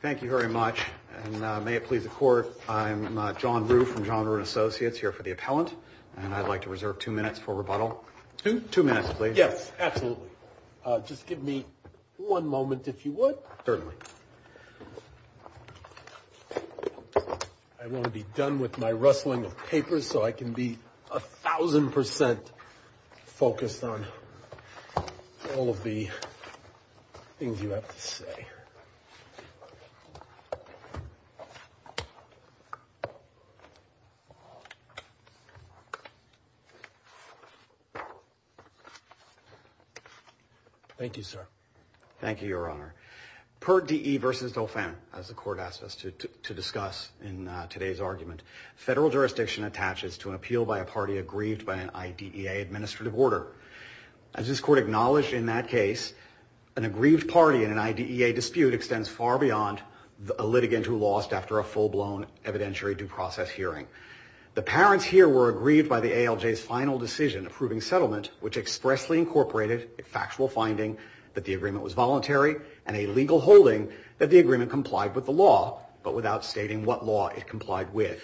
Thank you very much, and may it please the Court, I'm John Rue from John Rue & Associates, here for the appellant, and I'd like to reserve two minutes for rebuttal. Two minutes, please. Yes, absolutely. Just give me one moment, if you would. Certainly. I want to be done with my rustling of papers so I can be a thousand percent focused on all of the things you have to say. Thank you, sir. Thank you, Your Honor. Per DE v. Dauphin, as the Court asked us to discuss in today's argument, federal jurisdiction attaches to an appeal by a party aggrieved by an IDEA administrative order. As this Court acknowledged in that case, an aggrieved party in an IDEA dispute extends far beyond a litigant who lost after a full-blown evidentiary due process hearing. The parents here were aggrieved by the ALJ's final decision approving settlement, which expressly incorporated a factual finding that the agreement was voluntary and a legal holding that the agreement complied with the law, but without stating what law it complied with.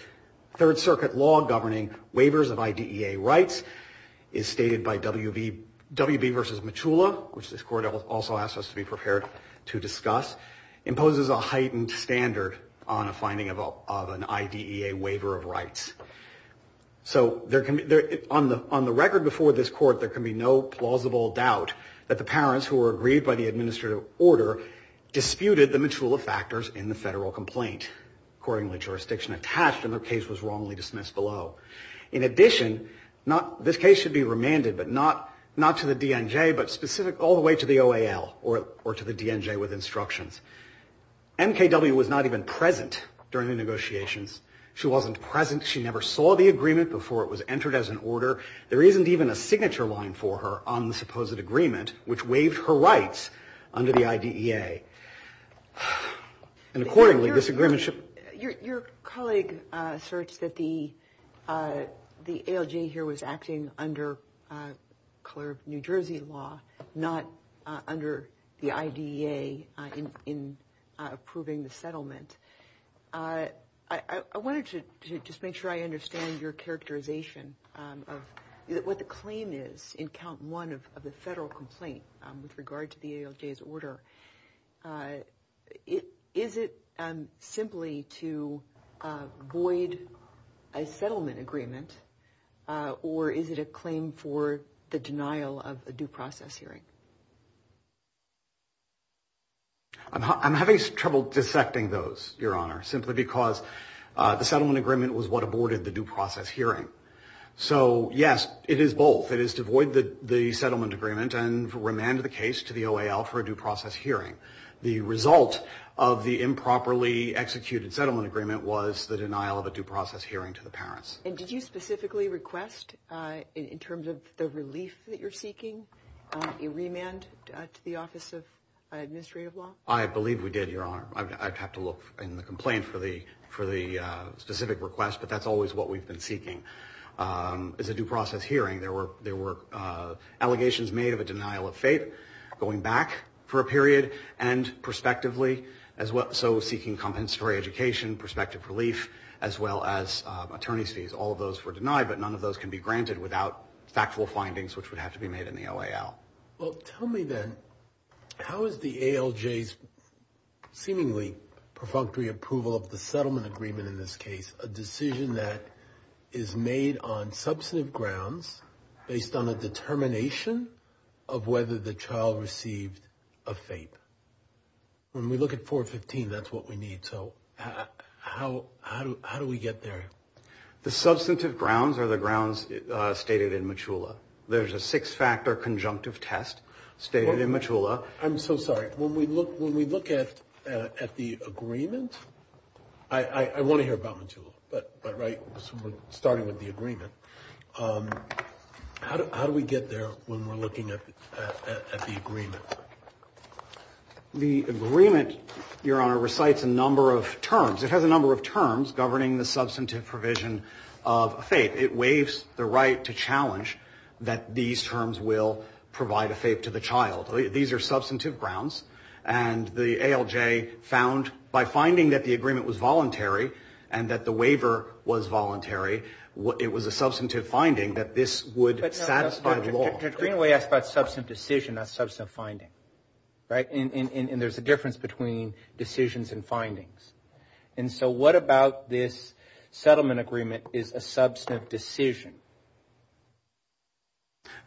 Third Circuit law governing waivers of IDEA rights is stated by W.B. v. Michula, which this Court also asked us to be prepared to discuss, imposes a heightened standard on a finding of an IDEA waiver of rights. So on the record before this Court, there can be no plausible doubt that the parents who were aggrieved by the administrative order disputed the Michula factors in the federal complaint. Accordingly, jurisdiction attached, and their case was wrongly dismissed below. In addition, this case should be remanded, but not to the DNJ, but specific all the way to the OAL or to the DNJ with instructions. MKW was not even present during the negotiations. She wasn't present. She never saw the agreement before it was entered as an order. There isn't even a signature line for her on the supposed agreement, which waived her rights under the IDEA. And accordingly, this agreement should... Your colleague asserts that the ALJ here was acting under color of New Jersey law, not under the IDEA in approving the settlement. I wanted to just make sure I understand your characterization of what the claim is in count one of the federal complaint with regard to the ALJ's order. Is it simply to void a settlement agreement, or is it a claim for the denial of a due process hearing? I'm having trouble dissecting those, Your Honor, simply because the settlement agreement was what aborted the due process hearing. So yes, it is both. It is to void the settlement agreement and remand the case to the OAL for a due process hearing. The result of the improperly executed settlement agreement was the denial of a due process hearing to the parents. And did you specifically request, in terms of the relief that you're seeking, a remand to the Office of Administrative Law? I believe we did, Your Honor. I'd have to look in the complaint for the specific request, but that's always what we've been seeking. It's a due process hearing. There were allegations made of a denial of faith going back for a period, and prospectively, so seeking compensatory education, prospective relief, as well as attorney's fees. All of those were denied, but none of those can be granted without factual findings, which would have to be made in the OAL. Well, tell me then, how is the ALJ's seemingly perfunctory approval of the settlement agreement in this case a decision that is made on substantive grounds based on a determination of whether the child received a FAPE? When we look at 415, that's what we need. So how do we get there? The substantive grounds are the grounds stated in Machula. There's a six-factor conjunctive test stated in Machula. I'm so sorry. When we look at the agreement, I want to hear about Machula, but starting with the agreement, how do we get there when we're looking at the agreement? The agreement, Your Honor, recites a number of terms. It has a number of terms governing the substantive provision of a FAPE. It waives the right to challenge that these terms will provide a FAPE to the child. These are substantive grounds. And the ALJ found, by finding that the agreement was voluntary and that the waiver was voluntary, it was a substantive finding that this would satisfy the law. But in a way, that's about substantive decision, not substantive finding, right? And there's a difference between decisions and findings. And so what about this settlement agreement is a substantive decision?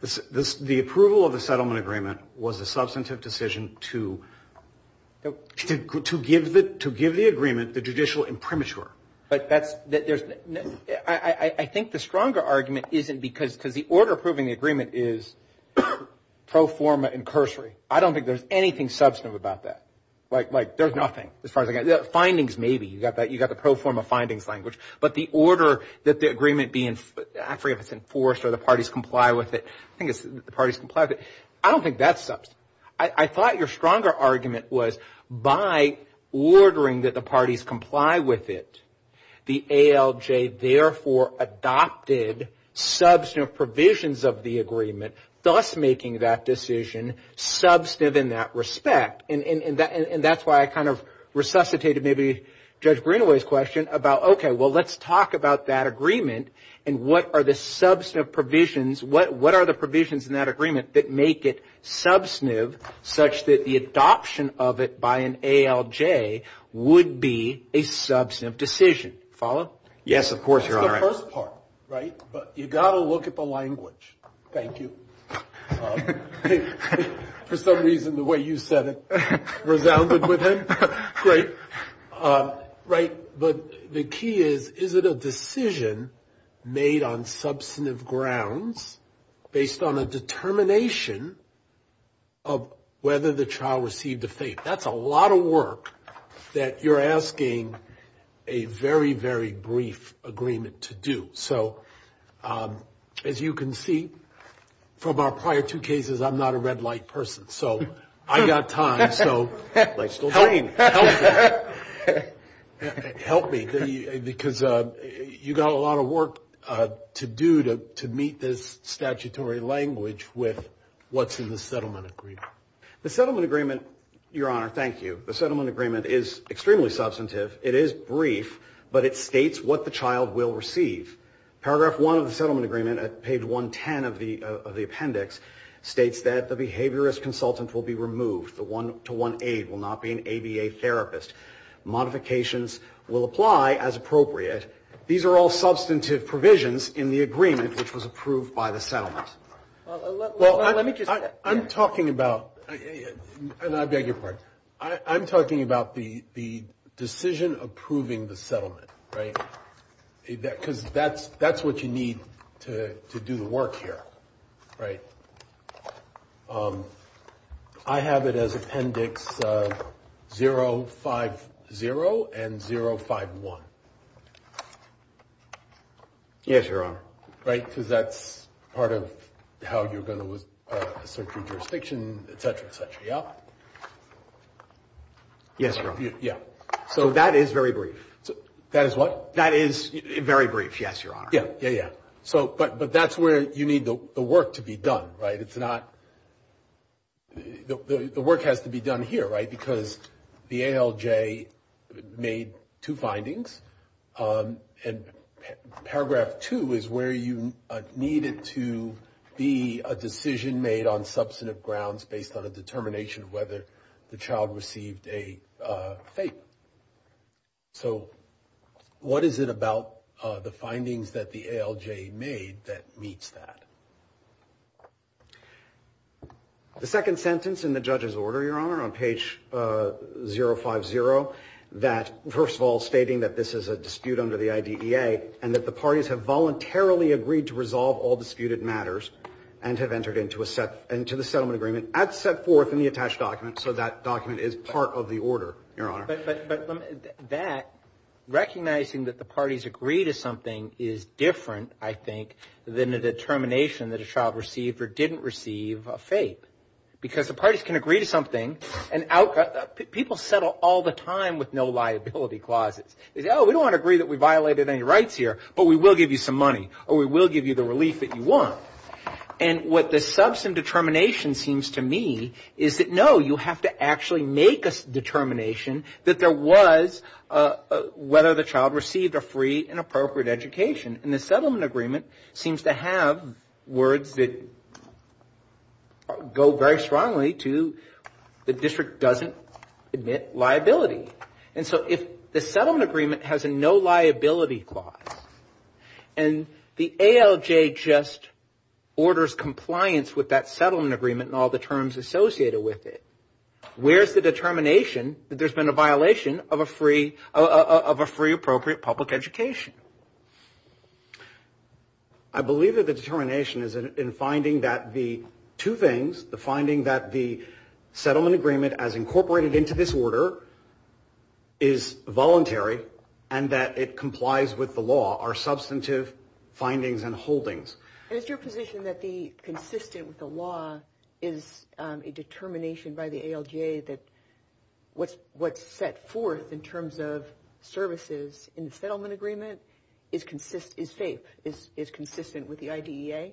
The approval of the settlement agreement was a substantive decision to give the agreement the judicial imprimatur. I think the stronger argument isn't because the order approving the agreement is pro forma and cursory. I don't think there's anything substantive about that. Like, there's nothing as far as I got. Findings, maybe. You got the pro forma findings language. But the order that the agreement be, I forget if it's enforced or the parties comply with it. I think it's the parties comply with it. I don't think that's substantive. I thought your stronger argument was by ordering that the parties comply with it, the ALJ therefore adopted substantive provisions of the agreement, thus making that decision substantive in that respect. And that's why I kind of resuscitated maybe Judge Greenaway's question about, okay, well, let's talk about that agreement. And what are the substantive provisions? What are the provisions in that agreement that make it substantive such that the adoption of it by an ALJ would be a substantive decision? Follow? Yes, of course, Your Honor. That's the first part, right? But you got to look at the language. Thank you. For some reason, the way you said it resounded with him. Great. Right. But the key is, is it a decision made on substantive grounds based on a determination of whether the child received a fate? That's a lot of work that you're asking a very, very brief agreement to do. So as you can see from our prior two cases, I'm not a red light person. So I got time, so help me. Help me, because you got a lot of work to do to meet this statutory language with what's in the settlement agreement. The settlement agreement, Your Honor, thank you. The settlement agreement is extremely substantive. It is brief, but it states what the child will receive. Paragraph one of the settlement agreement at page 110 of the appendix states that the behaviorist consultant will be removed. The one-to-one aide will not be an ABA therapist. Modifications will apply as appropriate. These are all substantive provisions in the agreement, which was approved by the settlement. Well, I'm talking about, and I beg your pardon, I'm talking about the decision approving the settlement, right? Because that's what you need to do the work here, right? I have it as appendix 050 and 051. Yes, Your Honor. Right, because that's part of how you're going to assert your jurisdiction, et cetera, et cetera, yeah? Yes, Your Honor. Yeah. So that is very brief. That is what? That is very brief, yes, Your Honor. Yeah, yeah, yeah. But that's where you need the work to be done, right? It's not the work has to be done here, right, because the ALJ made two findings, and paragraph two is where you need it to be a decision made on substantive grounds based on a determination of whether the child received a favor. So what is it about the findings that the ALJ made that meets that? The second sentence in the judge's order, Your Honor, on page 050, that first of all stating that this is a dispute under the IDEA and that the parties have voluntarily agreed to resolve all disputed matters and have entered into the settlement agreement as set forth in the attached document, so that document is part of the order, Your Honor. But that, recognizing that the parties agree to something is different, I think, than the determination that a child received or didn't receive a favor, because the parties can agree to something and people settle all the time with no liability clauses. They say, oh, we don't want to agree that we violated any rights here, but we will give you some money, or we will give you the relief that you want. And what the substantive determination seems to me is that, no, you have to actually make a determination that there was whether the child received a free and appropriate education. And the settlement agreement seems to have words that go very strongly to the district doesn't admit liability. And so if the settlement agreement has a no liability clause, and the ALJ just orders compliance with that settlement agreement and all the terms associated with it, where's the determination that there's been a violation of a free appropriate public education? I believe that the determination is in finding that the two things, the finding that the settlement agreement as incorporated into this order is voluntary and that it complies with the law are substantive findings and holdings. Is your position that the consistent with the law is a determination by the ALJ that what's set forth in terms of services in the settlement agreement is consistent with the IDEA?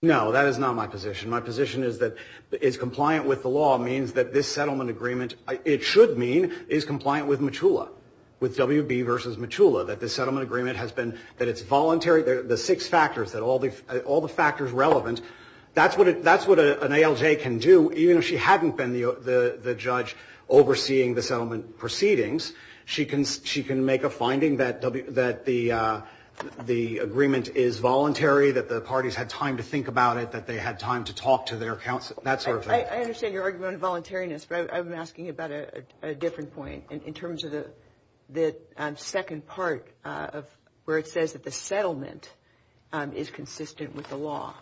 No, that is not my position. My position is that is compliant with the law means that this settlement agreement, it should mean is compliant with MACHULA, with WB versus MACHULA, that the settlement agreement has been, that it's voluntary, the six factors, that all the factors relevant, that's what an ALJ can do. Even if she hadn't been the judge overseeing the settlement proceedings, she can make a finding that the agreement is voluntary, that the parties had time to think about it, that they had time to talk to their counsel, that sort of thing. I understand your argument on voluntariness, but I'm asking about a different point in terms of the second part of where it says that the settlement is consistent with the law.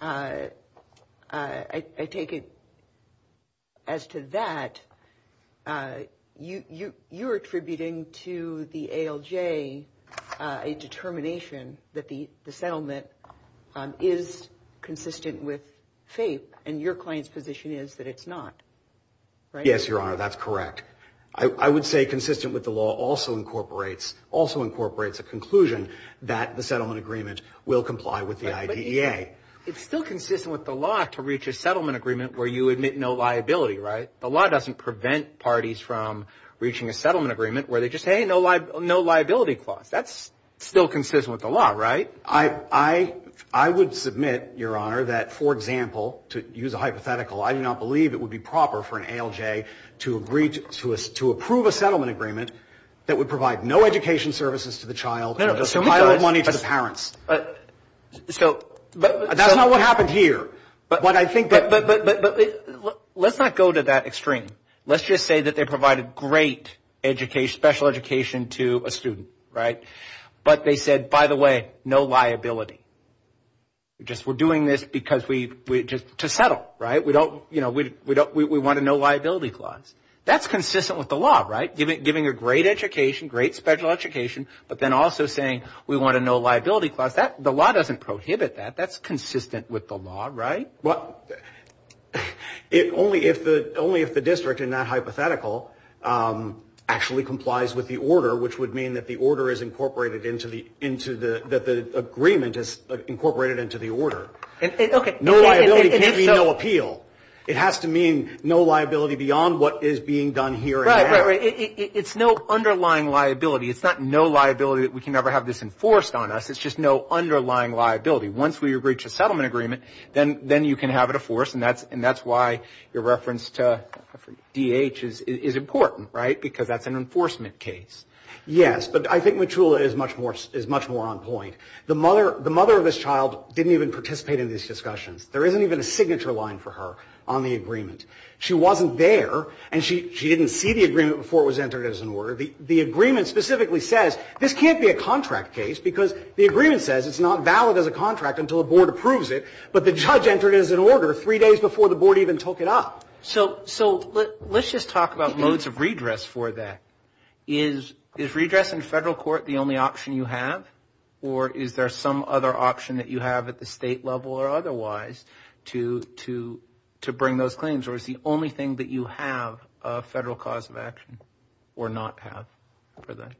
I take it as to that, you're attributing to the ALJ a determination that the settlement is consistent with FAPE and your client's position is that it's not, right? Yes, Your Honor, that's correct. I would say consistent with the law also incorporates a conclusion that the settlement agreement will comply with the IDEA. It's still consistent with the law to reach a settlement agreement where you admit no liability, right? The law doesn't prevent parties from reaching a settlement agreement where they just say, hey, no liability clause. That's still consistent with the law, right? I would submit, Your Honor, that, for example, to use a hypothetical, I do not believe it would be proper for an ALJ to approve a settlement agreement that would provide no education services to the child and no child money to the parents. That's not what happened here. Let's not go to that extreme. Let's just say that they provided great special education to a student, right? But they said, by the way, no liability. We're doing this to settle, right? We want a no liability clause. That's consistent with the law, right? Giving a great education, great special education, but then also saying we want a no liability clause. The law doesn't prohibit that. That's consistent with the law, right? Only if the district in that hypothetical actually complies with the order, which would mean that the order is incorporated into the agreement. No liability can be no appeal. It has to mean no liability beyond what is being done here and now. It's no underlying liability. It's not no liability that we can ever have this enforced on us. It's just no underlying liability. Once we reach a settlement agreement, then you can have it enforced, and that's why your reference to D.H. is important, right? Because that's an enforcement case. Yes, but I think Matula is much more on point. The mother of this child didn't even participate in these discussions. There isn't even a signature line for her on the agreement. She wasn't there, and she didn't see the agreement before it was entered as an order. The agreement specifically says this can't be a contract case because the agreement says it's not valid as a contract until a board approves it, but the judge entered it as an order three days before the board even took it up. So let's just talk about modes of redress for that. Is redress in federal court the only option you have, or is there some other option that you have at the state level or otherwise to bring those claims, or is the only thing that you have a federal cause of action or not have for that?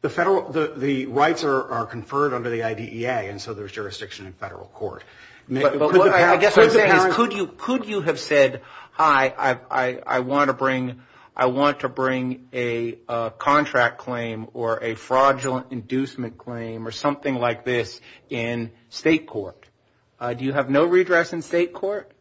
The rights are conferred under the IDEA, and so there's jurisdiction in federal court. I guess what I'm saying is could you have said, hi, I want to bring a contract claim or a fraudulent inducement claim or something like this in state court? Do you have no redress in state court?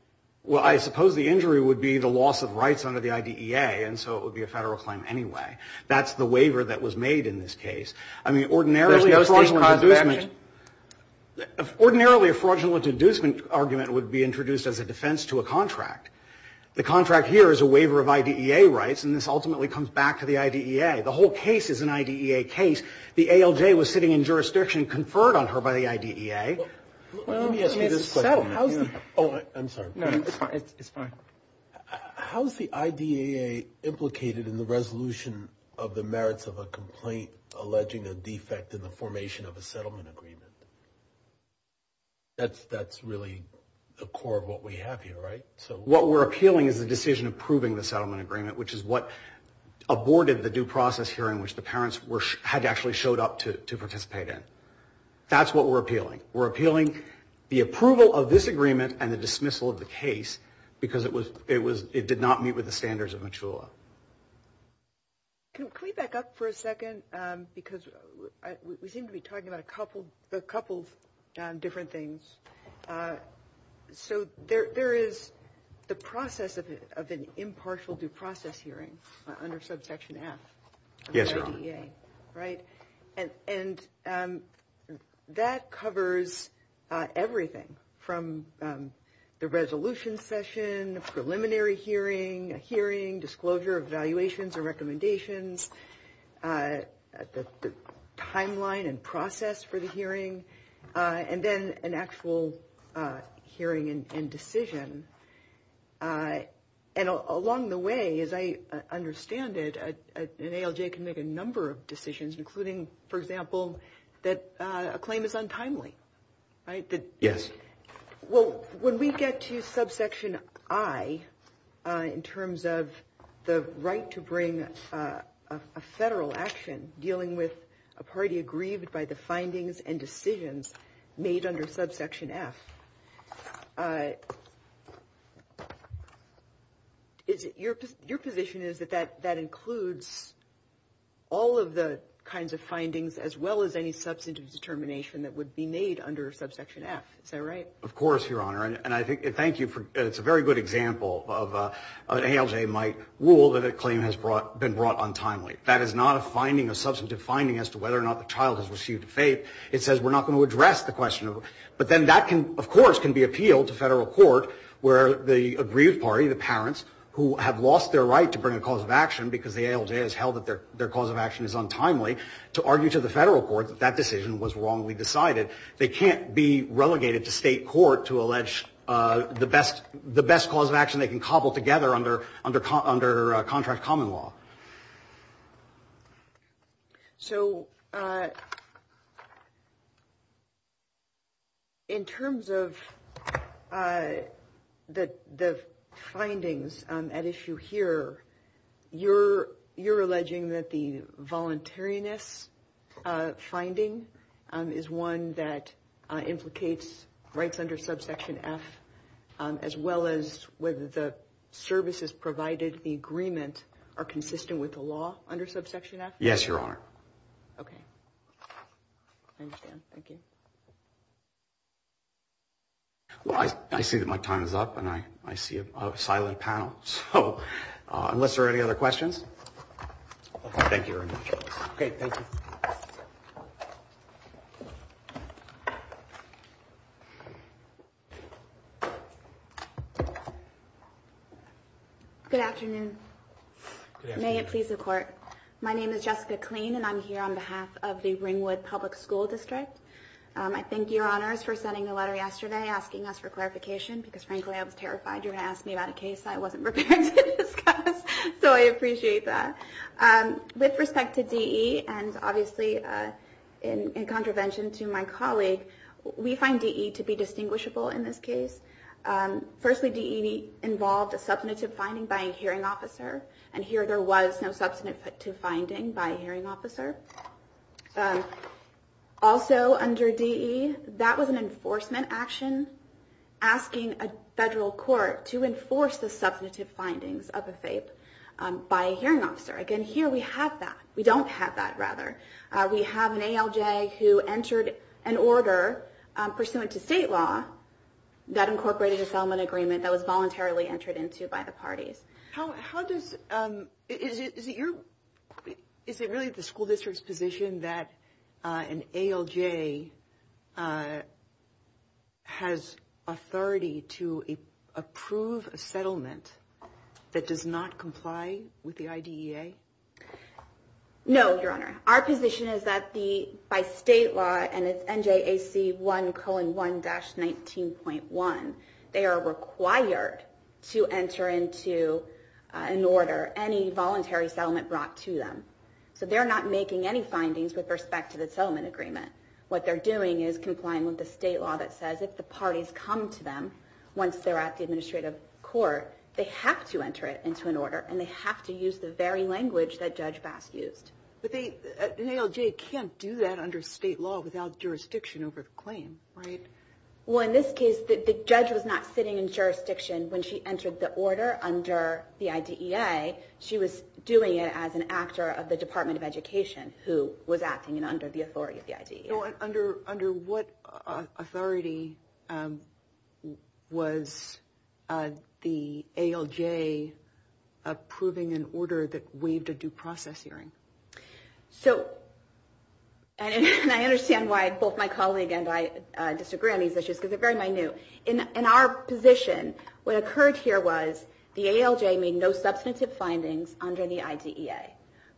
Well, I suppose the injury would be the loss of rights under the IDEA, and so it would be a federal claim anyway. That's the waiver that was made in this case. There's no state cause of action? Ordinarily, a fraudulent inducement argument would be introduced as a defense to a contract. The contract here is a waiver of IDEA rights, and this ultimately comes back to the IDEA. The whole case is an IDEA case. The ALJ was sitting in jurisdiction conferred on her by the IDEA. Let me ask you this question. Oh, I'm sorry. No, it's fine. How is the IDEA implicated in the resolution of the merits of a complaint alleging a defect in the formation of a settlement agreement? That's really the core of what we have here, right? What we're appealing is the decision approving the settlement agreement, which is what aborted the due process hearing, which the parents had actually showed up to participate in. That's what we're appealing. We're appealing the approval of this agreement and the dismissal of the case because it did not meet with the standards of MACHULA. Can we back up for a second? Because we seem to be talking about a couple of different things. So there is the process of an impartial due process hearing under Subsection F of the IDEA. Yes, Your Honor. Right? And that covers everything from the resolution session, the preliminary hearing, a hearing, disclosure of evaluations and recommendations, the timeline and process for the hearing, and then an actual hearing and decision. And along the way, as I understand it, an ALJ can make a number of decisions, including, for example, that a claim is untimely, right? Yes. Well, when we get to Subsection I, in terms of the right to bring a federal action dealing with a party aggrieved by the findings and decisions made under Subsection F, your position is that that includes all of the kinds of findings as well as any substantive determination that would be made under Subsection F. Is that right? Of course, Your Honor. And I thank you. It's a very good example of an ALJ might rule that a claim has been brought untimely. That is not a finding, a substantive finding, as to whether or not the child has received a fate. It says we're not going to address the question. But then that, of course, can be appealed to federal court where the aggrieved party, the parents who have lost their right to bring a cause of action because the ALJ has held that their cause of action is untimely, to argue to the federal court that that decision was wrongly decided. They can't be relegated to state court to allege the best cause of action they can cobble together under contract common law. So, in terms of the findings at issue here, you're alleging that the voluntariness finding is one that implicates rights under Subsection F, as well as whether the services provided in the agreement are consistent with the law under Subsection F? Yes, Your Honor. Okay. I understand. Thank you. Well, I see that my time is up, and I see a silent panel. So, unless there are any other questions, thank you very much. Okay, thank you. Good afternoon. Good afternoon. May it please the Court. My name is Jessica Kleen, and I'm here on behalf of the Ringwood Public School District. I thank Your Honors for sending a letter yesterday asking us for clarification because, frankly, I was terrified you were going to ask me about a case I wasn't prepared to discuss. So, I appreciate that. With respect to DE, and obviously in contravention to my colleague, we find DE to be distinguishable in this case. Firstly, DE involved a substantive finding by a hearing officer, and here there was no substantive finding by a hearing officer. Also, under DE, that was an enforcement action asking a federal court to enforce the substantive findings of a FAPE by a hearing officer. Again, here we have that. We don't have that, rather. We have an ALJ who entered an order pursuant to state law that incorporated a settlement agreement that was voluntarily entered into by the parties. Is it really the school district's position that an ALJ has authority to approve a settlement that does not comply with the IDEA? No, Your Honor. Our position is that by state law, and it's NJAC 1 colon 1 dash 19.1, they are required to enter into an order any voluntary settlement brought to them. So, they're not making any findings with respect to the settlement agreement. What they're doing is complying with the state law that says if the parties come to them once they're at the administrative court, they have to enter it into an order, and they have to use the very language that Judge Bass used. But an ALJ can't do that under state law without jurisdiction over the claim, right? Well, in this case, the judge was not sitting in jurisdiction when she entered the order under the IDEA. She was doing it as an actor of the Department of Education, who was acting under the authority of the IDEA. Under what authority was the ALJ approving an order that waived a due process hearing? So, and I understand why both my colleague and I disagree on these issues because they're very minute. In our position, what occurred here was the ALJ made no substantive findings under the IDEA.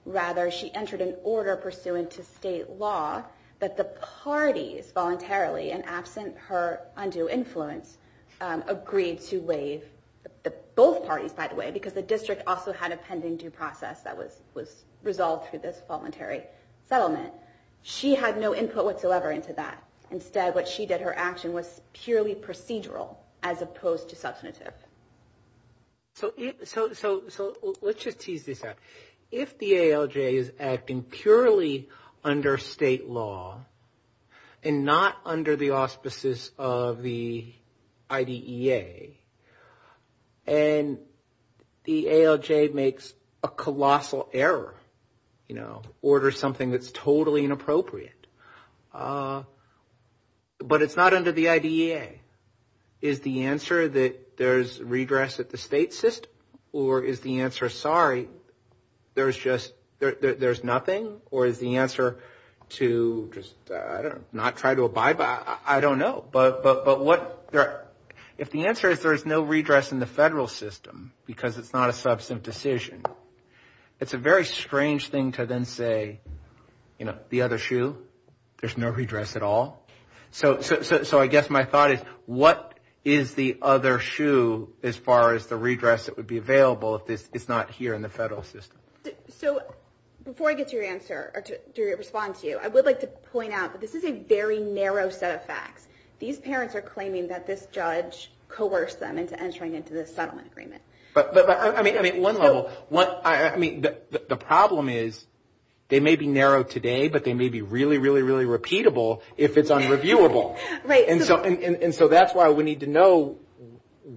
Rather, she entered an order pursuant to state law that the parties voluntarily, and absent her undue influence, agreed to waive both parties, by the way, because the district also had a pending due process that was resolved through this voluntary settlement. She had no input whatsoever into that. Instead, what she did, her action, was purely procedural as opposed to substantive. So, let's just tease this out. If the ALJ is acting purely under state law, and not under the auspices of the IDEA, and the ALJ makes a colossal error, you know, or is the answer sorry, there's just, there's nothing? Or is the answer to just, I don't know, not try to abide by, I don't know. But what, if the answer is there's no redress in the federal system because it's not a substantive decision, it's a very strange thing to then say, you know, the other shoe, there's no redress at all. So, I guess my thought is, what is the other shoe as far as the redress that would be available if it's not here in the federal system? So, before I get to your answer, or to respond to you, I would like to point out that this is a very narrow set of facts. These parents are claiming that this judge coerced them into entering into this settlement agreement. But, I mean, at one level, I mean, the problem is they may be narrow today, but they may be really, really, really repeatable if it's unreviewable. Right. And so, that's why we need to know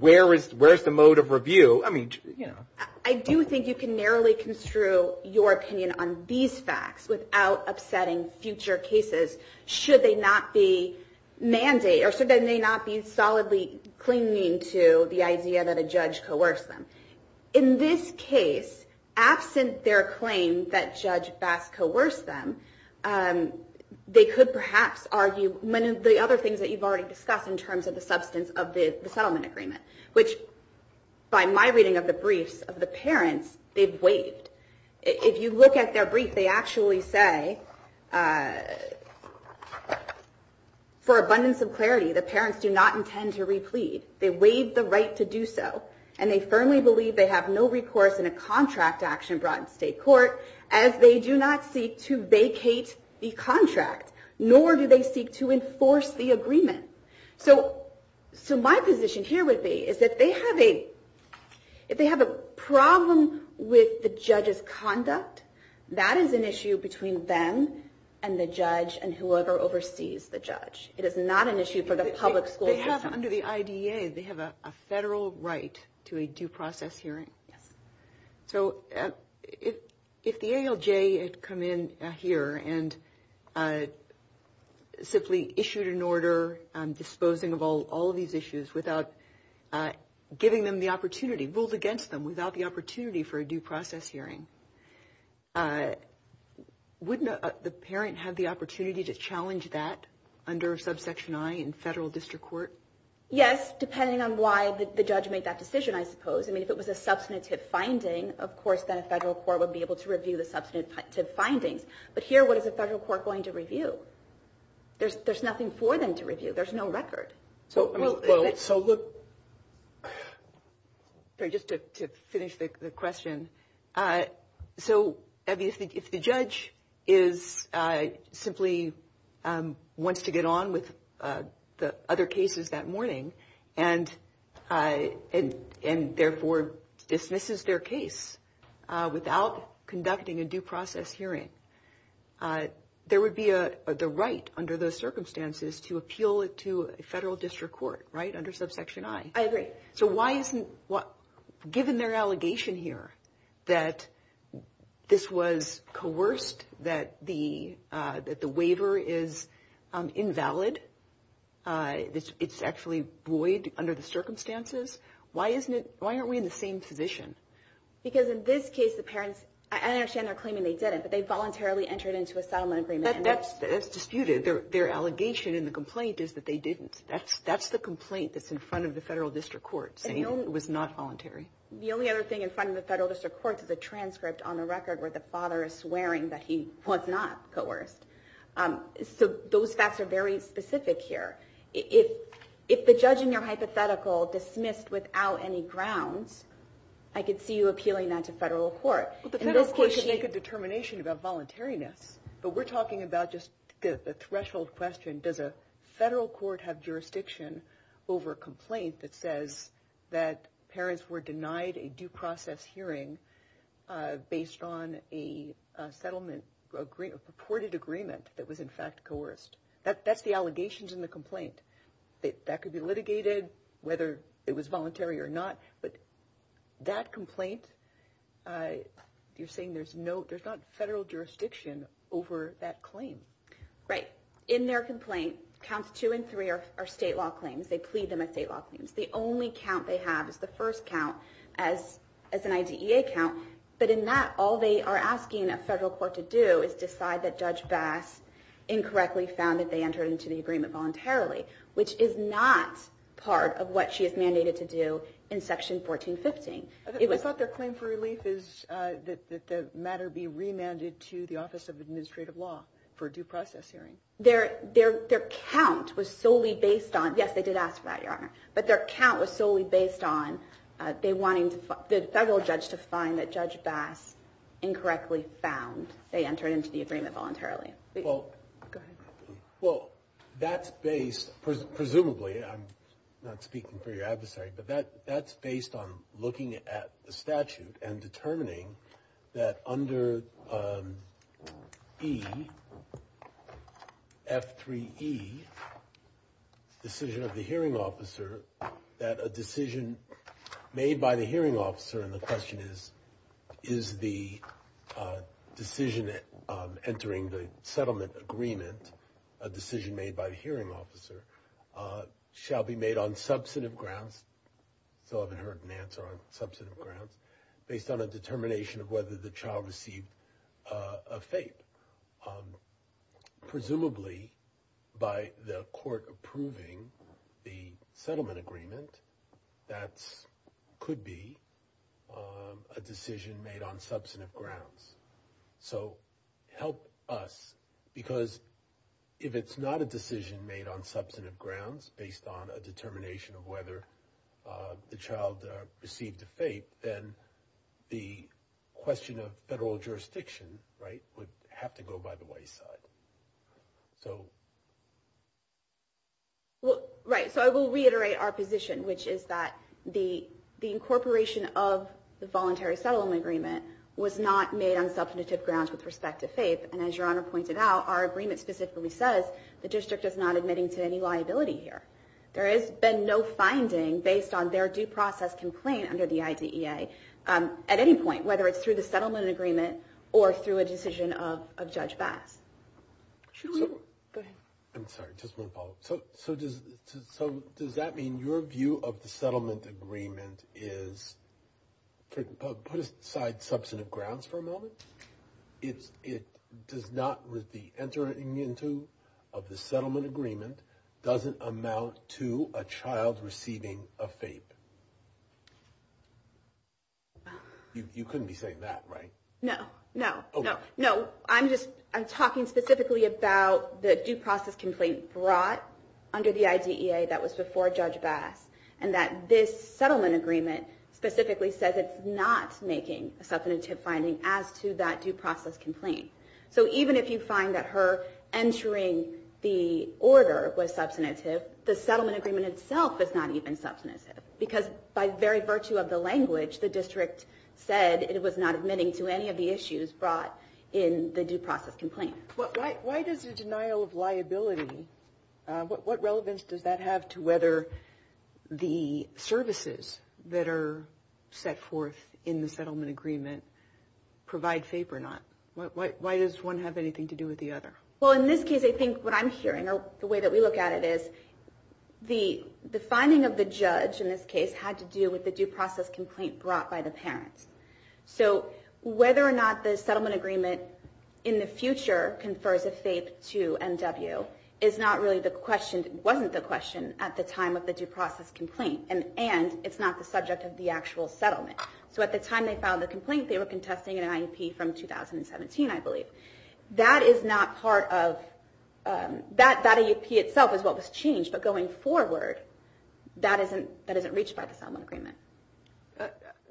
where is the mode of review. I mean, you know. I do think you can narrowly construe your opinion on these facts without upsetting future cases should they not be mandated, or should they not be solidly clinging to the idea that a judge coerced them. In this case, absent their claim that Judge Bass coerced them, they could perhaps argue many of the other things that you've already discussed in terms of the substance of the settlement agreement, which, by my reading of the briefs of the parents, they've waived. If you look at their brief, they actually say, for abundance of clarity, the parents do not intend to replead. They waive the right to do so, and they firmly believe they have no recourse in a contract action brought in state court, as they do not seek to vacate the contract, nor do they seek to enforce the agreement. So, my position here would be is that if they have a problem with the judge's conduct, that is an issue between them and the judge and whoever oversees the judge. It is not an issue for the public school system. They have, under the IDEA, they have a federal right to a due process hearing. Yes. So, if the ALJ had come in here and simply issued an order disposing of all of these issues without giving them the opportunity, ruled against them without the opportunity for a due process hearing, wouldn't the parent have the opportunity to challenge that under subsection I in federal district court? Yes, depending on why the judge made that decision, I suppose. I mean, if it was a substantive finding, of course, then a federal court would be able to review the substantive findings. But here, what is a federal court going to review? There's nothing for them to review. There's no record. So, look. Just to finish the question. So, if the judge simply wants to get on with the other cases that morning and, therefore, dismisses their case without conducting a due process hearing, there would be the right under those circumstances to appeal it to a federal district court, right, under subsection I. I agree. So, given their allegation here that this was coerced, that the waiver is invalid, it's actually void under the circumstances, why aren't we in the same position? Because in this case, the parents, I understand they're claiming they didn't, but they voluntarily entered into a settlement agreement. That's disputed. Their allegation in the complaint is that they didn't. That's the complaint that's in front of the federal district court saying it was not voluntary. The only other thing in front of the federal district court is a transcript on the record where the father is swearing that he was not coerced. So, those facts are very specific here. If the judge in your hypothetical dismissed without any grounds, I could see you appealing that to federal court. Well, the federal court should make a determination about voluntariness. But we're talking about just the threshold question. Does a federal court have jurisdiction over a complaint that says that parents were denied a due process hearing based on a settlement, a purported agreement that was in fact coerced? That's the allegations in the complaint. That could be litigated, whether it was voluntary or not. But that complaint, you're saying there's not federal jurisdiction over that claim. Right. In their complaint, counts two and three are state law claims. They plead them as state law claims. The only count they have is the first count as an IDEA count. But in that, all they are asking a federal court to do is decide that Judge Bass incorrectly found that they entered into the agreement voluntarily, which is not part of what she is mandated to do in Section 1415. I thought their claim for relief is that the matter be remanded to the Office of Administrative Law for a due process hearing. Their count was solely based on, yes, they did ask for that, Your Honor, but their count was solely based on the federal judge to find that Judge Bass incorrectly found they entered into the agreement voluntarily. Go ahead. Well, that's based, presumably, I'm not speaking for your adversary, but that's based on looking at the statute and determining that under E, F3E, decision of the hearing officer, that a decision made by the hearing officer, and the question is, is the decision entering the settlement agreement a decision made by the hearing officer, shall be made on substantive grounds, still haven't heard an answer on substantive grounds, based on a determination of whether the child received a FAPE. Presumably, by the court approving the settlement agreement, that could be a decision made on substantive grounds. So help us, because if it's not a decision made on substantive grounds, based on a determination of whether the child received a FAPE, then the question of federal jurisdiction would have to go by the White side. Right, so I will reiterate our position, which is that the incorporation of the voluntary settlement agreement was not made on substantive grounds with respect to FAPE, and as Your Honor pointed out, our agreement specifically says the district is not admitting to any liability here. There has been no finding based on their due process complaint under the IDEA at any point, whether it's through the settlement agreement or through a decision of Judge Bass. Should we, go ahead. I'm sorry, just want to follow up. So does that mean your view of the settlement agreement is, put aside substantive grounds for a moment, it does not, the entering into of the settlement agreement doesn't amount to a child receiving a FAPE? You couldn't be saying that, right? No, no, no, no. I'm just, I'm talking specifically about the due process complaint brought under the IDEA that was before Judge Bass, and that this settlement agreement specifically says it's not making a substantive finding as to that due process complaint. So even if you find that her entering the order was substantive, the settlement agreement itself is not even substantive, because by very virtue of the language, the district said it was not admitting to any of the issues brought in the due process complaint. Why does the denial of liability, what relevance does that have to whether the services that are set forth in the settlement agreement provide FAPE or not? Why does one have anything to do with the other? Well, in this case, I think what I'm hearing, or the way that we look at it is, the finding of the judge in this case had to do with the due process complaint brought by the parents. So whether or not the settlement agreement in the future confers a FAPE to MW is not really the question, wasn't the question at the time of the due process complaint, and it's not the subject of the actual settlement. So at the time they filed the complaint, they were contesting an IEP from 2017, I believe. That is not part of, that IEP itself is what was changed, but going forward, that isn't reached by the settlement agreement.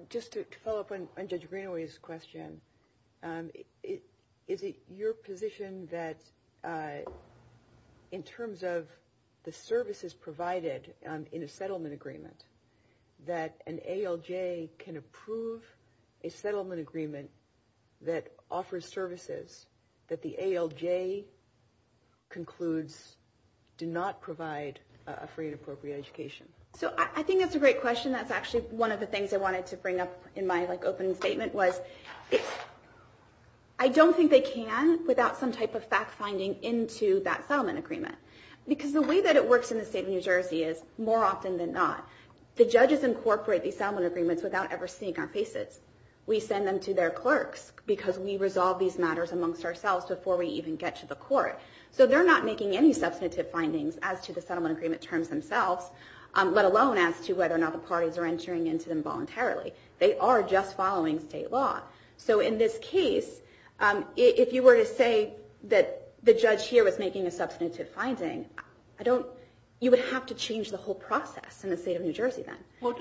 Just to follow up on Judge Greenaway's question, is it your position that in terms of the services provided in a settlement agreement, that an ALJ can approve a settlement agreement that offers services that the ALJ concludes do not provide for inappropriate education? So I think that's a great question. That's actually one of the things I wanted to bring up in my opening statement, was I don't think they can without some type of fact-finding into that settlement agreement. Because the way that it works in the state of New Jersey is, more often than not, the judges incorporate these settlement agreements without ever seeing our faces. We send them to their clerks because we resolve these matters amongst ourselves before we even get to the court. So they're not making any substantive findings as to the settlement agreement terms themselves, let alone as to whether or not the parties are entering into them voluntarily. They are just following state law. So in this case, if you were to say that the judge here was making a substantive finding, you would have to change the whole process in the state of New Jersey then. What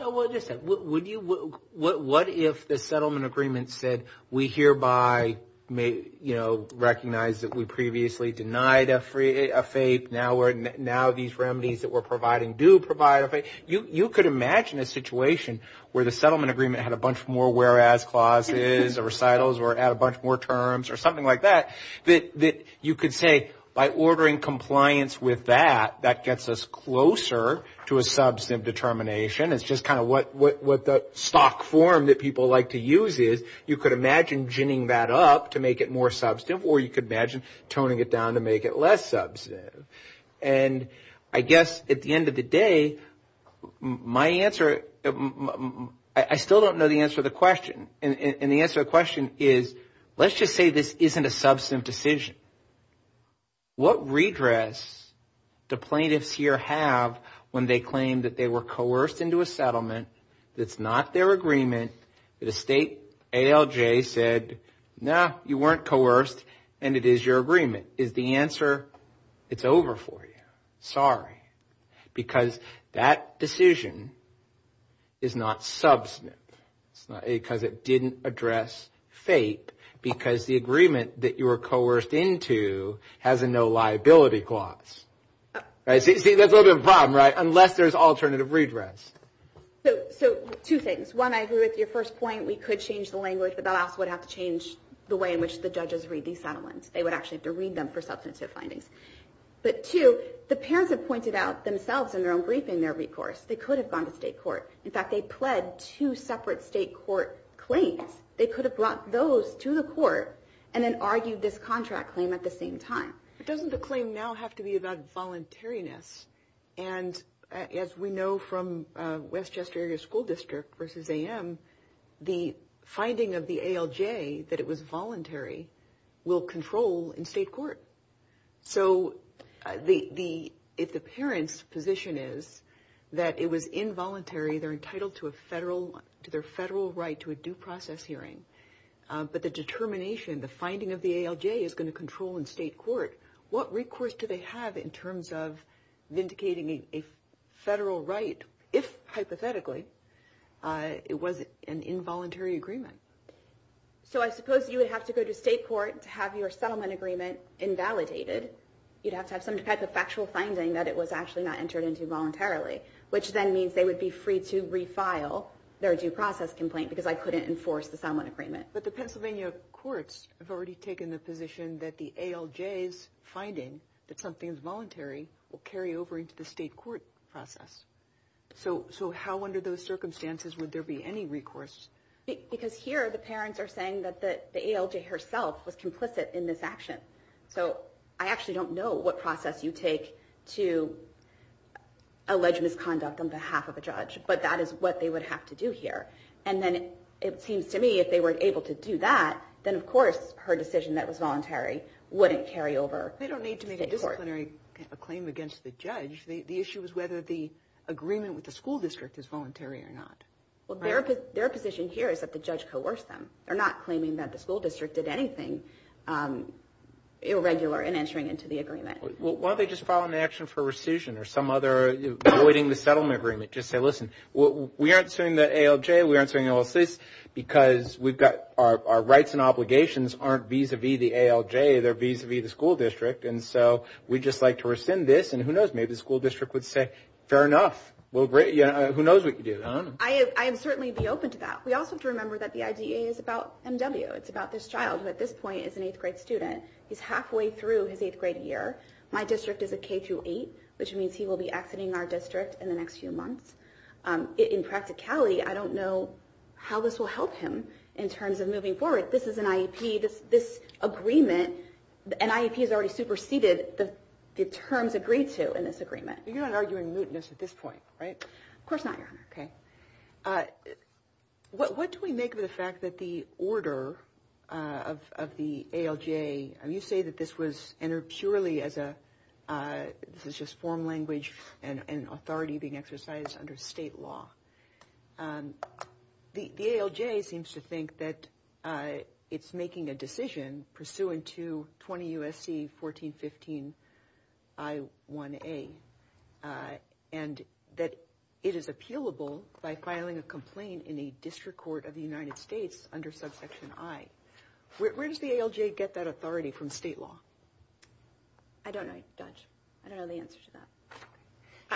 if the settlement agreement said, we hereby recognize that we previously denied a FAPE, now these remedies that we're providing do provide a FAPE? You could imagine a situation where the settlement agreement had a bunch more whereas clauses or recitals or had a bunch more terms or something like that, that you could say, by ordering compliance with that, that gets us closer to a substantive determination. It's just kind of what the stock form that people like to use is. You could imagine ginning that up to make it more substantive, or you could imagine toning it down to make it less substantive. And I guess at the end of the day, my answer, I still don't know the answer to the question. And the answer to the question is, let's just say this isn't a substantive decision. What redress do plaintiffs here have when they claim that they were coerced into a settlement that's not their agreement, that a state ALJ said, no, you weren't coerced, and it is your agreement. Is the answer, it's over for you, sorry, because that decision is not substantive. Because it didn't address fate because the agreement that you were coerced into has a no liability clause. See, that's a little bit of a problem, right, unless there's alternative redress. So two things. One, I agree with your first point, we could change the language, but that also would have to change the way in which the judges read these settlements. They would actually have to read them for substantive findings. But two, the parents have pointed out themselves in their own briefing their recourse. They could have gone to state court. In fact, they pled two separate state court claims. They could have brought those to the court and then argued this contract claim at the same time. But doesn't the claim now have to be about voluntariness? And as we know from Westchester Area School District versus AM, the finding of the ALJ that it was voluntary will control in state court. So if the parent's position is that it was involuntary, they're entitled to their federal right to a due process hearing, but the determination, the finding of the ALJ is going to control in state court, what recourse do they have in terms of vindicating a federal right, if hypothetically it was an involuntary agreement? So I suppose you would have to go to state court to have your settlement agreement invalidated. You'd have to have some type of factual finding that it was actually not entered into voluntarily, which then means they would be free to refile their due process complaint because I couldn't enforce the settlement agreement. But the Pennsylvania courts have already taken the position that the ALJ's finding that something is voluntary will carry over into the state court process. So how under those circumstances would there be any recourse? Because here the parents are saying that the ALJ herself was complicit in this action. So I actually don't know what process you take to allege misconduct on behalf of a judge, but that is what they would have to do here. And then it seems to me if they were able to do that, then of course her decision that was voluntary wouldn't carry over to state court. They don't need to make a disciplinary claim against the judge. The issue is whether the agreement with the school district is voluntary or not. Well, their position here is that the judge coerced them. They're not claiming that the school district did anything irregular in entering into the agreement. Well, why don't they just file an action for rescission or some other avoiding the settlement agreement, just say, listen, we aren't suing the ALJ, we aren't suing LSS, because we've got our rights and obligations aren't vis-a-vis the ALJ, they're vis-a-vis the school district, and so we'd just like to rescind this, and who knows, maybe the school district would say, fair enough. Who knows what you did, huh? I'd certainly be open to that. We also have to remember that the IDEA is about MW. It's about this child who at this point is an eighth grade student. He's halfway through his eighth grade year. My district is a K-8, which means he will be exiting our district in the next few months. In practicality, I don't know how this will help him in terms of moving forward. This is an IEP. You're not arguing mootness at this point, right? Of course not, Your Honor. Okay. What do we make of the fact that the order of the ALJ, you say that this was entered purely as a, this is just form language and authority being exercised under state law. The ALJ seems to think that it's making a decision pursuant to 20 U.S.C. 1415 I1A, and that it is appealable by filing a complaint in a district court of the United States under subsection I. Where does the ALJ get that authority from state law? I don't know, Judge. I don't know the answer to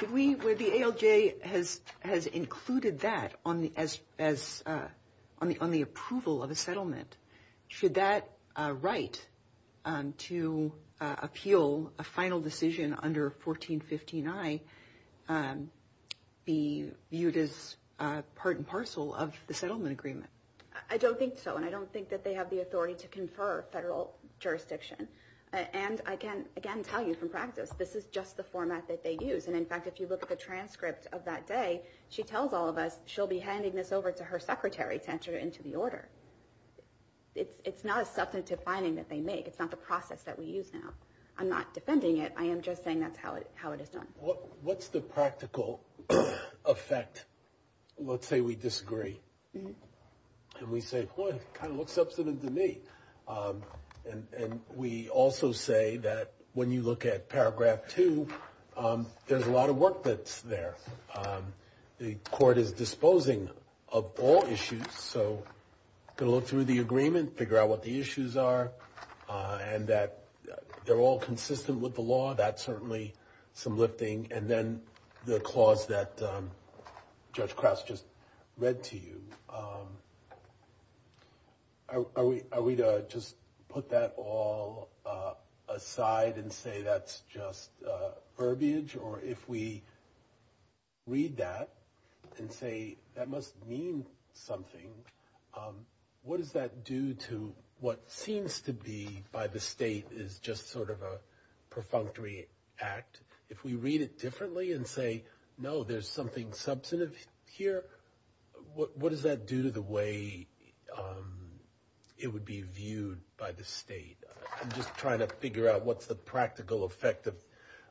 that. Where the ALJ has included that on the approval of a settlement, should that right to appeal a final decision under 1415 I be viewed as part and parcel of the settlement agreement? I don't think so, and I don't think that they have the authority to confer federal jurisdiction. And I can, again, tell you from practice, this is just the format that they use. And, in fact, if you look at the transcript of that day, she tells all of us, she'll be handing this over to her secretary to enter it into the order. It's not a substantive finding that they make. It's not the process that we use now. I'm not defending it. I am just saying that's how it is done. What's the practical effect? Let's say we disagree, and we say, boy, it kind of looks substantive to me. And we also say that when you look at paragraph two, there's a lot of work that's there. The court is disposing of all issues, so going to look through the agreement, figure out what the issues are, and that they're all consistent with the law. That's certainly some lifting. And then the clause that Judge Krause just read to you, are we to just put that all aside and say that's just verbiage? Or if we read that and say that must mean something, what does that do to what seems to be, by the state, is just sort of a perfunctory act? If we read it differently and say, no, there's something substantive here, what does that do to the way it would be viewed by the state? I'm just trying to figure out what's the practical effect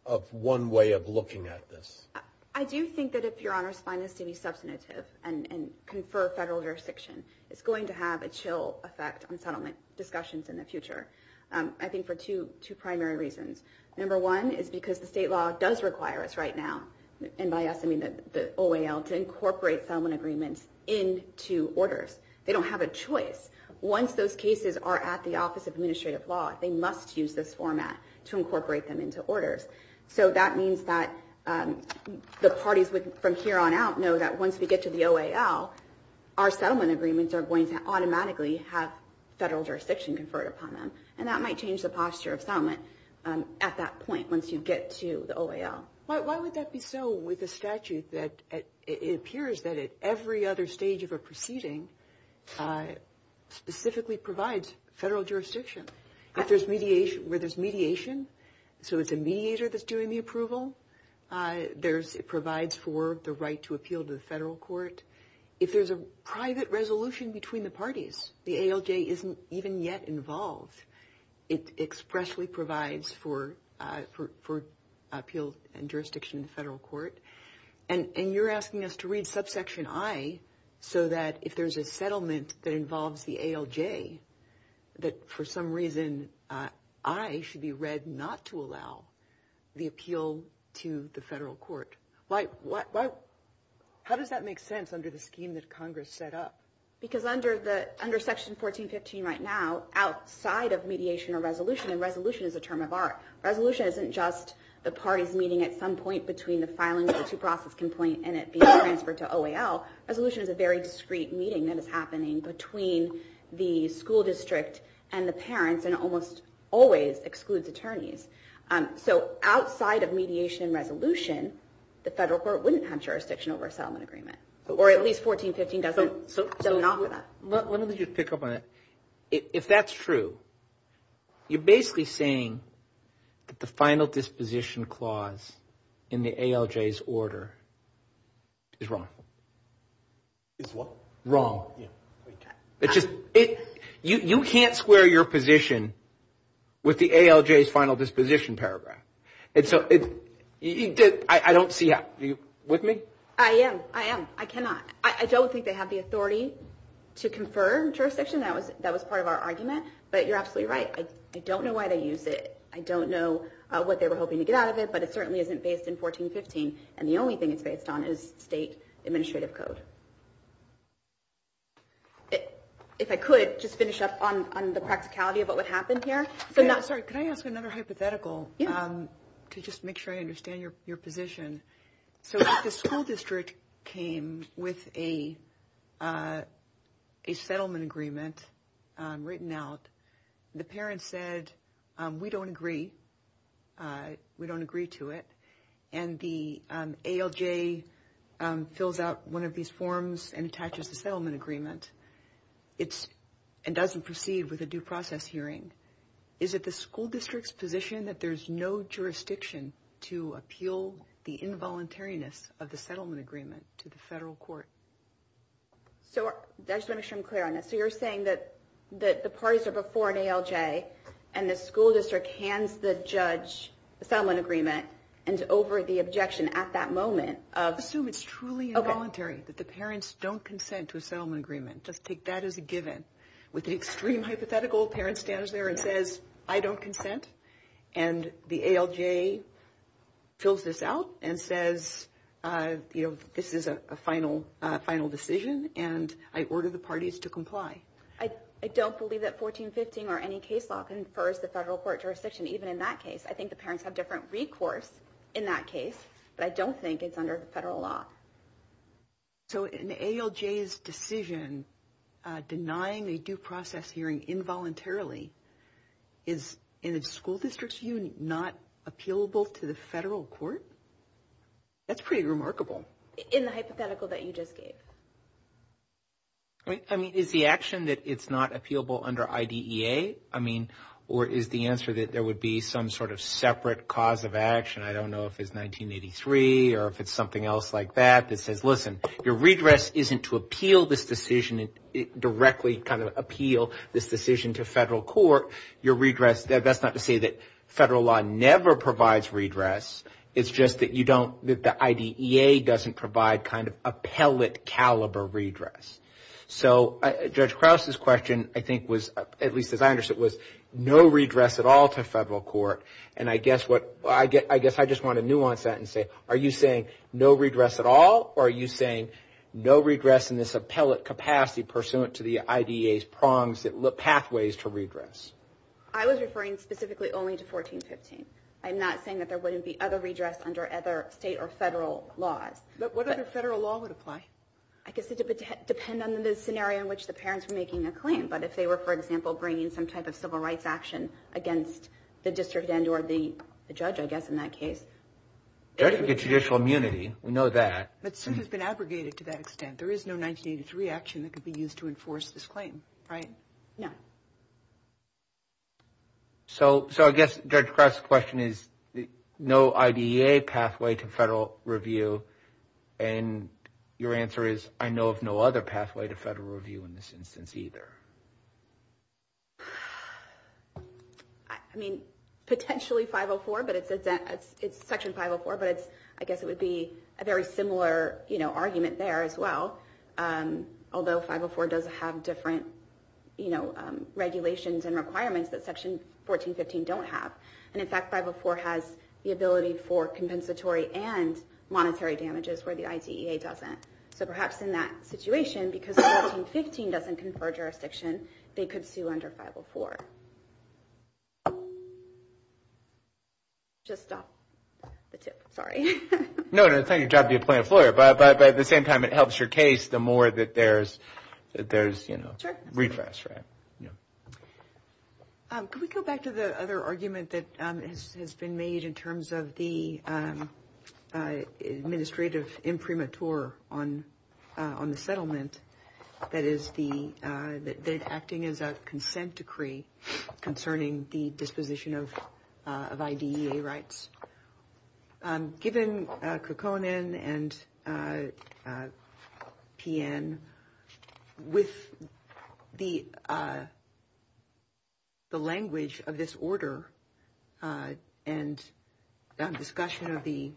of one way of looking at this. I do think that if your honors find this to be substantive and confer federal jurisdiction, it's going to have a chill effect on settlement discussions in the future. I think for two primary reasons. Number one is because the state law does require us right now, and by us I mean the OAL, to incorporate settlement agreements into orders. They don't have a choice. Once those cases are at the Office of Administrative Law, they must use this format to incorporate them into orders. So that means that the parties from here on out know that once we get to the OAL, our settlement agreements are going to automatically have federal jurisdiction conferred upon them, and that might change the posture of settlement at that point, once you get to the OAL. Why would that be so with a statute that it appears that at every other stage of a proceeding specifically provides federal jurisdiction? If there's mediation, where there's mediation, so it's a mediator that's doing the approval, it provides for the right to appeal to the federal court. If there's a private resolution between the parties, the ALJ isn't even yet involved. It expressly provides for appeal and jurisdiction in the federal court. And you're asking us to read subsection I so that if there's a settlement that involves the ALJ, that for some reason I should be read not to allow the appeal to the federal court. How does that make sense under the scheme that Congress set up? Because under Section 1415 right now, outside of mediation or resolution, and resolution is a term of art. Resolution isn't just the parties meeting at some point between the filing of the two-process complaint and it being transferred to OAL. Resolution is a very discreet meeting that is happening between the school district and the parents and almost always excludes attorneys. So outside of mediation and resolution, the federal court wouldn't have jurisdiction over a settlement agreement. Or at least 1415 doesn't offer that. Let me just pick up on it. If that's true, you're basically saying that the final disposition clause in the ALJ's order is wrong. Is what? Wrong. You can't square your position with the ALJ's final disposition paragraph. I don't see how. Are you with me? I am. I am. I cannot. I don't think they have the authority to confirm jurisdiction. That was part of our argument. But you're absolutely right. I don't know why they use it. I don't know what they were hoping to get out of it. But it certainly isn't based in 1415. And the only thing it's based on is state administrative code. If I could, just finish up on the practicality of what happened here. Sorry, can I ask another hypothetical to just make sure I understand your position? So the school district came with a settlement agreement written out. The parents said, we don't agree. We don't agree to it. And the ALJ fills out one of these forms and attaches the settlement agreement. It doesn't proceed with a due process hearing. Is it the school district's position that there's no jurisdiction to appeal the involuntariness of the settlement agreement to the federal court? I just want to make sure I'm clear on this. So you're saying that the parties are before an ALJ, and the school district hands the judge the settlement agreement, and is over the objection at that moment. I assume it's truly involuntary that the parents don't consent to a settlement agreement. Just take that as a given. With the extreme hypothetical, the parent stands there and says, I don't consent. And the ALJ fills this out and says, this is a final decision, and I order the parties to comply. I don't believe that 1415 or any case law confers the federal court jurisdiction, even in that case. I think the parents have different recourse in that case, but I don't think it's under the federal law. So an ALJ's decision denying a due process hearing involuntarily is, in the school district's view, not appealable to the federal court? That's pretty remarkable. In the hypothetical that you just gave. I mean, is the action that it's not appealable under IDEA? I mean, or is the answer that there would be some sort of separate cause of action? I don't know if it's 1983 or if it's something else like that that says, listen, your redress isn't to appeal this decision and directly kind of appeal this decision to federal court. Your redress, that's not to say that federal law never provides redress. It's just that the IDEA doesn't provide kind of appellate caliber redress. So Judge Krause's question I think was, at least as I understood it, was no redress at all to federal court. And I guess I just want to nuance that and say, are you saying no redress at all, or are you saying no redress in this appellate capacity pursuant to the IDEA's prongs, pathways to redress? I was referring specifically only to 1415. I'm not saying that there wouldn't be other redress under other state or federal laws. But what other federal law would apply? I guess it would depend on the scenario in which the parents were making their claim. But if they were, for example, bringing some type of civil rights action against the district end or the judge, I guess in that case. Judge would get judicial immunity. We know that. But since it's been abrogated to that extent, there is no 1983 action that could be used to enforce this claim, right? No. So I guess Judge Krause's question is, no IDEA pathway to federal review. And your answer is, I know of no other pathway to federal review in this instance either. I mean, potentially 504, but it's Section 504, but I guess it would be a very similar argument there as well. Although 504 does have different regulations and requirements that Section 1415 don't have. And, in fact, 504 has the ability for compensatory and monetary damages where the IDEA doesn't. So perhaps in that situation, because 1415 doesn't confer jurisdiction, they could sue under 504. Just off the tip. Sorry. No, no, it's not your job to be a plaintiff's lawyer. But at the same time, it helps your case the more that there's, you know. Sure. Refresh, right? Yeah. Could we go back to the other argument that has been made in terms of the administrative imprimatur on the settlement, that is acting as a consent decree concerning the disposition of IDEA rights? Given Kukkonen and PN, with the language of this order and discussion of the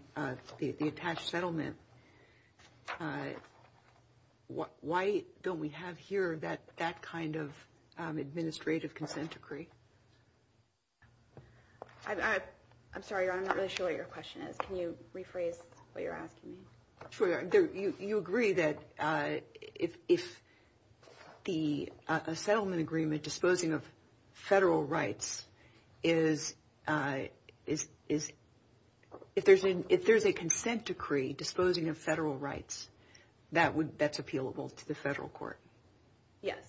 attached settlement, why don't we have here that kind of administrative consent decree? I'm sorry, Your Honor, I'm not really sure what your question is. Can you rephrase what you're asking me? Sure, Your Honor. You agree that if the settlement agreement disposing of federal rights is, if there's a consent decree disposing of federal rights, that's appealable to the federal court? Yes.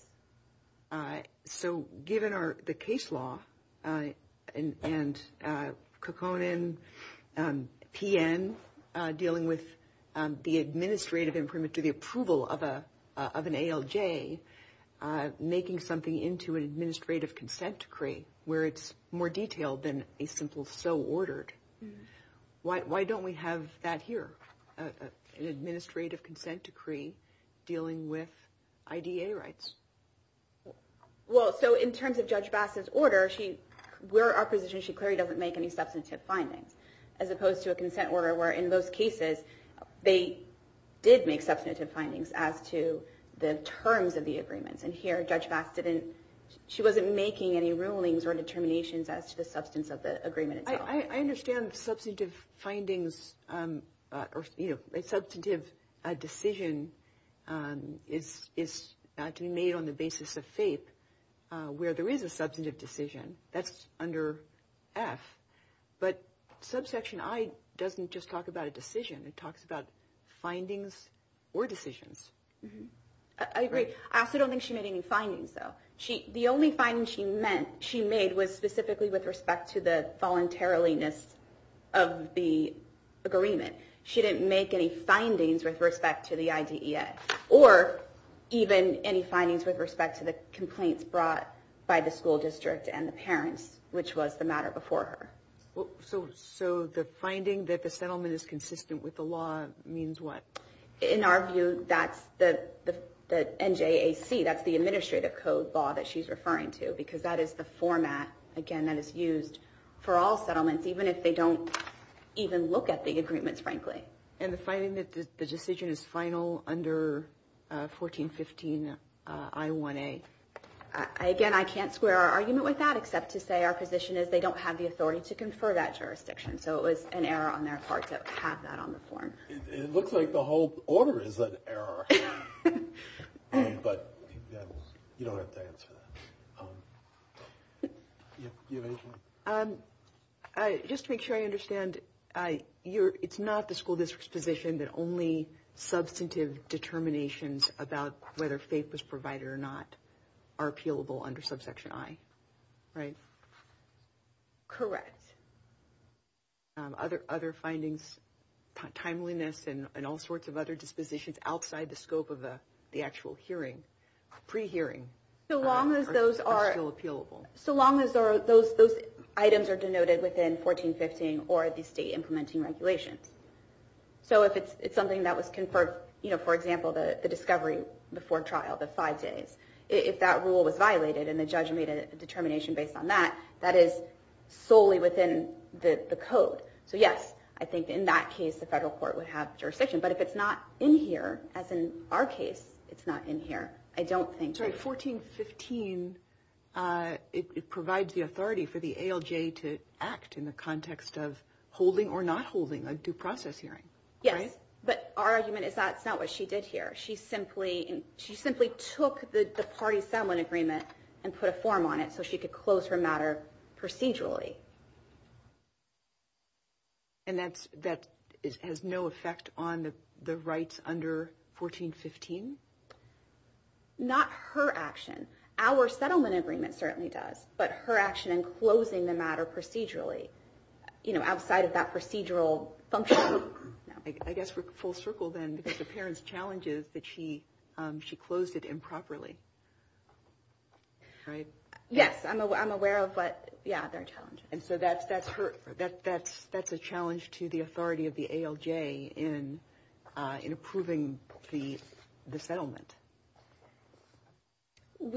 So given the case law and Kukkonen, PN, dealing with the administrative imprimatur, the approval of an ALJ, making something into an administrative consent decree where it's more detailed than a simple so ordered, why don't we have that here, an administrative consent decree dealing with IDEA rights? Well, so in terms of Judge Bassett's order, where our position is she clearly doesn't make any substantive findings, as opposed to a consent order where in most cases they did make substantive findings as to the terms of the agreements. And here Judge Bassett, she wasn't making any rulings or determinations as to the substance of the agreement itself. I understand substantive findings or, you know, a substantive decision is to be made on the basis of faith where there is a substantive decision. That's under F. But subsection I doesn't just talk about a decision. It talks about findings or decisions. I agree. I also don't think she made any findings, though. The only finding she made was specifically with respect to the voluntariliness of the agreement. She didn't make any findings with respect to the IDEA or even any findings with respect to the complaints brought by the school district and the parents, which was the matter before her. So the finding that the settlement is consistent with the law means what? In our view, that's the NJAC, that's the administrative code law that she's referring to because that is the format, again, that is used for all settlements, even if they don't even look at the agreements, frankly. And the finding that the decision is final under 1415I1A? Again, I can't square our argument with that except to say our position is they don't have the authority to confer that jurisdiction. So it was an error on their part to have that on the form. It looks like the whole order is an error. But you don't have to answer that. Do you have anything? Just to make sure I understand, it's not the school district's position that only substantive determinations about whether faith was provided or not are appealable under subsection I, right? Correct. Other findings, timeliness and all sorts of other dispositions outside the scope of the actual pre-hearing are still appealable? So long as those items are denoted within 1415 or the state implementing regulations. So if it's something that was conferred, for example, the discovery before trial, the five days, if that rule was violated and the judge made a determination based on that, that is solely within the code. So yes, I think in that case the federal court would have jurisdiction. But if it's not in here, as in our case, it's not in here, I don't think. So in 1415, it provides the authority for the ALJ to act in the context of holding or not holding a due process hearing, right? Yes, but our argument is that's not what she did here. She simply took the party settlement agreement and put a form on it so she could close her matter procedurally. And that has no effect on the rights under 1415? Not her action. Our settlement agreement certainly does, but her action in closing the matter procedurally, you know, outside of that procedural function. I guess we're full circle then, because the parent's challenge is that she closed it improperly, right? Yes, I'm aware of what, yeah, their challenges. And so that's a challenge to the authority of the ALJ in approving the settlement. I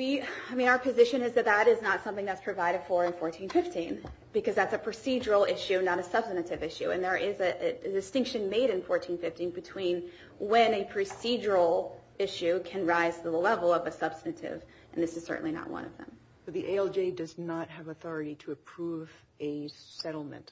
mean, our position is that that is not something that's provided for in 1415, because that's a procedural issue, not a substantive issue. And there is a distinction made in 1415 between when a procedural issue can rise to the level of a substantive, and this is certainly not one of them. So the ALJ does not have authority to approve a settlement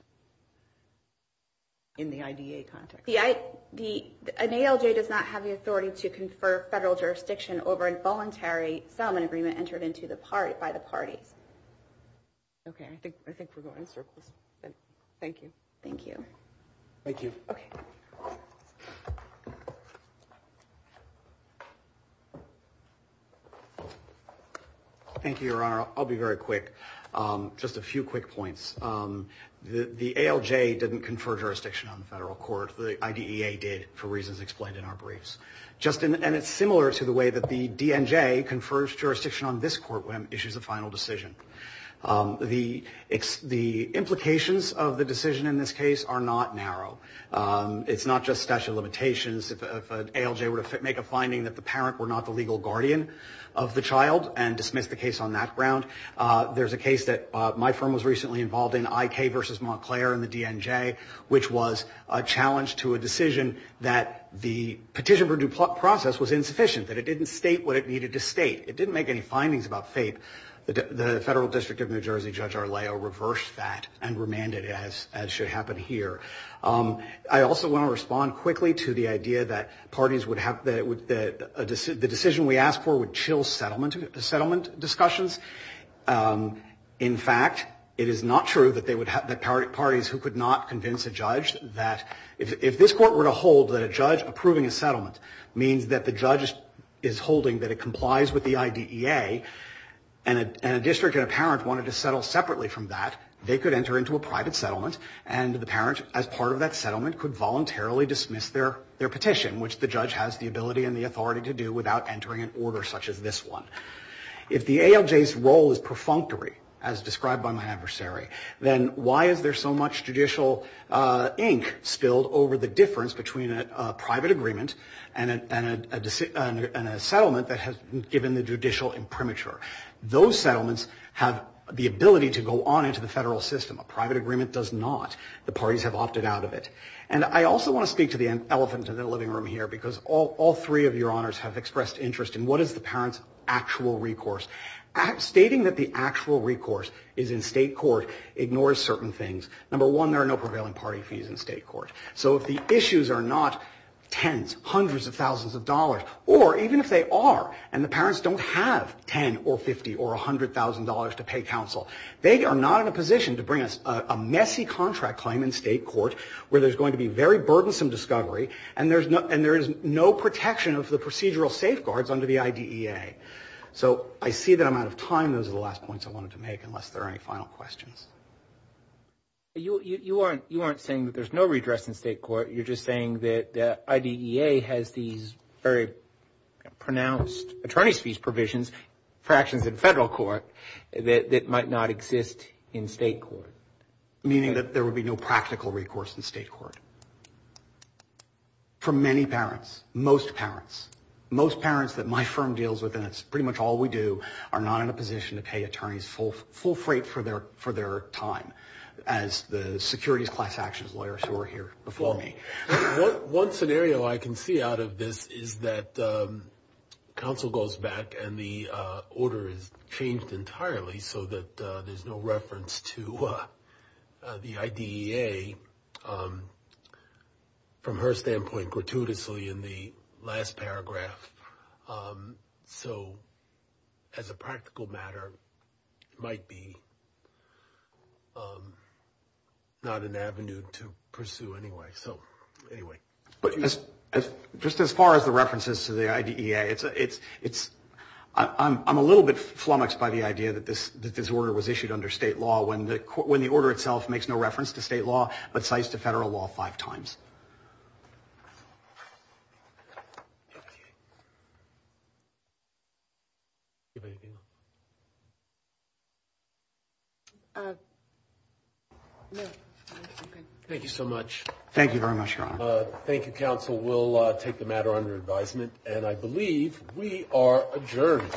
in the IDA context? An ALJ does not have the authority to confer federal jurisdiction over a voluntary settlement agreement entered by the parties. Okay, I think we're going in circles. Thank you. Thank you. Thank you. Okay. Thank you, Your Honor. I'll be very quick. Just a few quick points. The ALJ didn't confer jurisdiction on the federal court. The IDEA did, for reasons explained in our briefs. And it's similar to the way that the DNJ confers jurisdiction on this court when it issues a final decision. The implications of the decision in this case are not narrow. It's not just statute of limitations. If an ALJ were to make a finding that the parent were not the legal guardian of the child and dismiss the case on that ground, there's a case that my firm was recently involved in, I.K. v. Montclair and the DNJ, which was a challenge to a decision that the petition for due process was insufficient, that it didn't state what it needed to state. It didn't make any findings about FAPE. The Federal District of New Jersey Judge Arleo reversed that and remanded it as should happen here. I also want to respond quickly to the idea that parties would have the decision we asked for would chill settlement discussions. In fact, it is not true that parties who could not convince a judge that if this court were to hold that a judge approving a settlement means that the judge is holding that it complies with the IDEA and a district and a parent wanted to settle separately from that, they could enter into a private settlement and the parent, as part of that settlement, could voluntarily dismiss their petition, which the judge has the ability and the authority to do without entering an order such as this one. If the ALJ's role is perfunctory, as described by my adversary, then why is there so much judicial ink spilled over the difference between a private agreement and a settlement that has been given the judicial imprimatur? Those settlements have the ability to go on into the federal system. A private agreement does not. The parties have opted out of it. And I also want to speak to the elephant in the living room here because all three of your honors have expressed interest in what is the parent's actual recourse. Stating that the actual recourse is in state court ignores certain things. Number one, there are no prevailing party fees in state court. So if the issues are not tens, hundreds of thousands of dollars, or even if they are and the parents don't have 10 or 50 or $100,000 to pay counsel, they are not in a position to bring us a messy contract claim in state court where there's going to be very burdensome discovery and there is no protection of the procedural safeguards under the IDEA. So I see that I'm out of time. Those are the last points I wanted to make unless there are any final questions. You aren't saying that there's no redress in state court. You're just saying that IDEA has these very pronounced attorney's fees provisions for actions in federal court that might not exist in state court. Meaning that there would be no practical recourse in state court. For many parents, most parents. Most parents that my firm deals with, and it's pretty much all we do, are not in a position to pay attorneys full freight for their time as the securities class actions lawyers who are here before me. One scenario I can see out of this is that counsel goes back and the order is changed entirely so that there's no reference to the IDEA. From her standpoint, gratuitously in the last paragraph. So as a practical matter, it might be not an avenue to pursue anyway. Just as far as the references to the IDEA, I'm a little bit flummoxed by the idea that this order was issued under state law when the order itself makes no reference to state law but cites the federal law five times. Thank you so much. Thank you very much, Your Honor. Thank you, counsel. We'll take the matter under advisement, and I believe we are adjourned.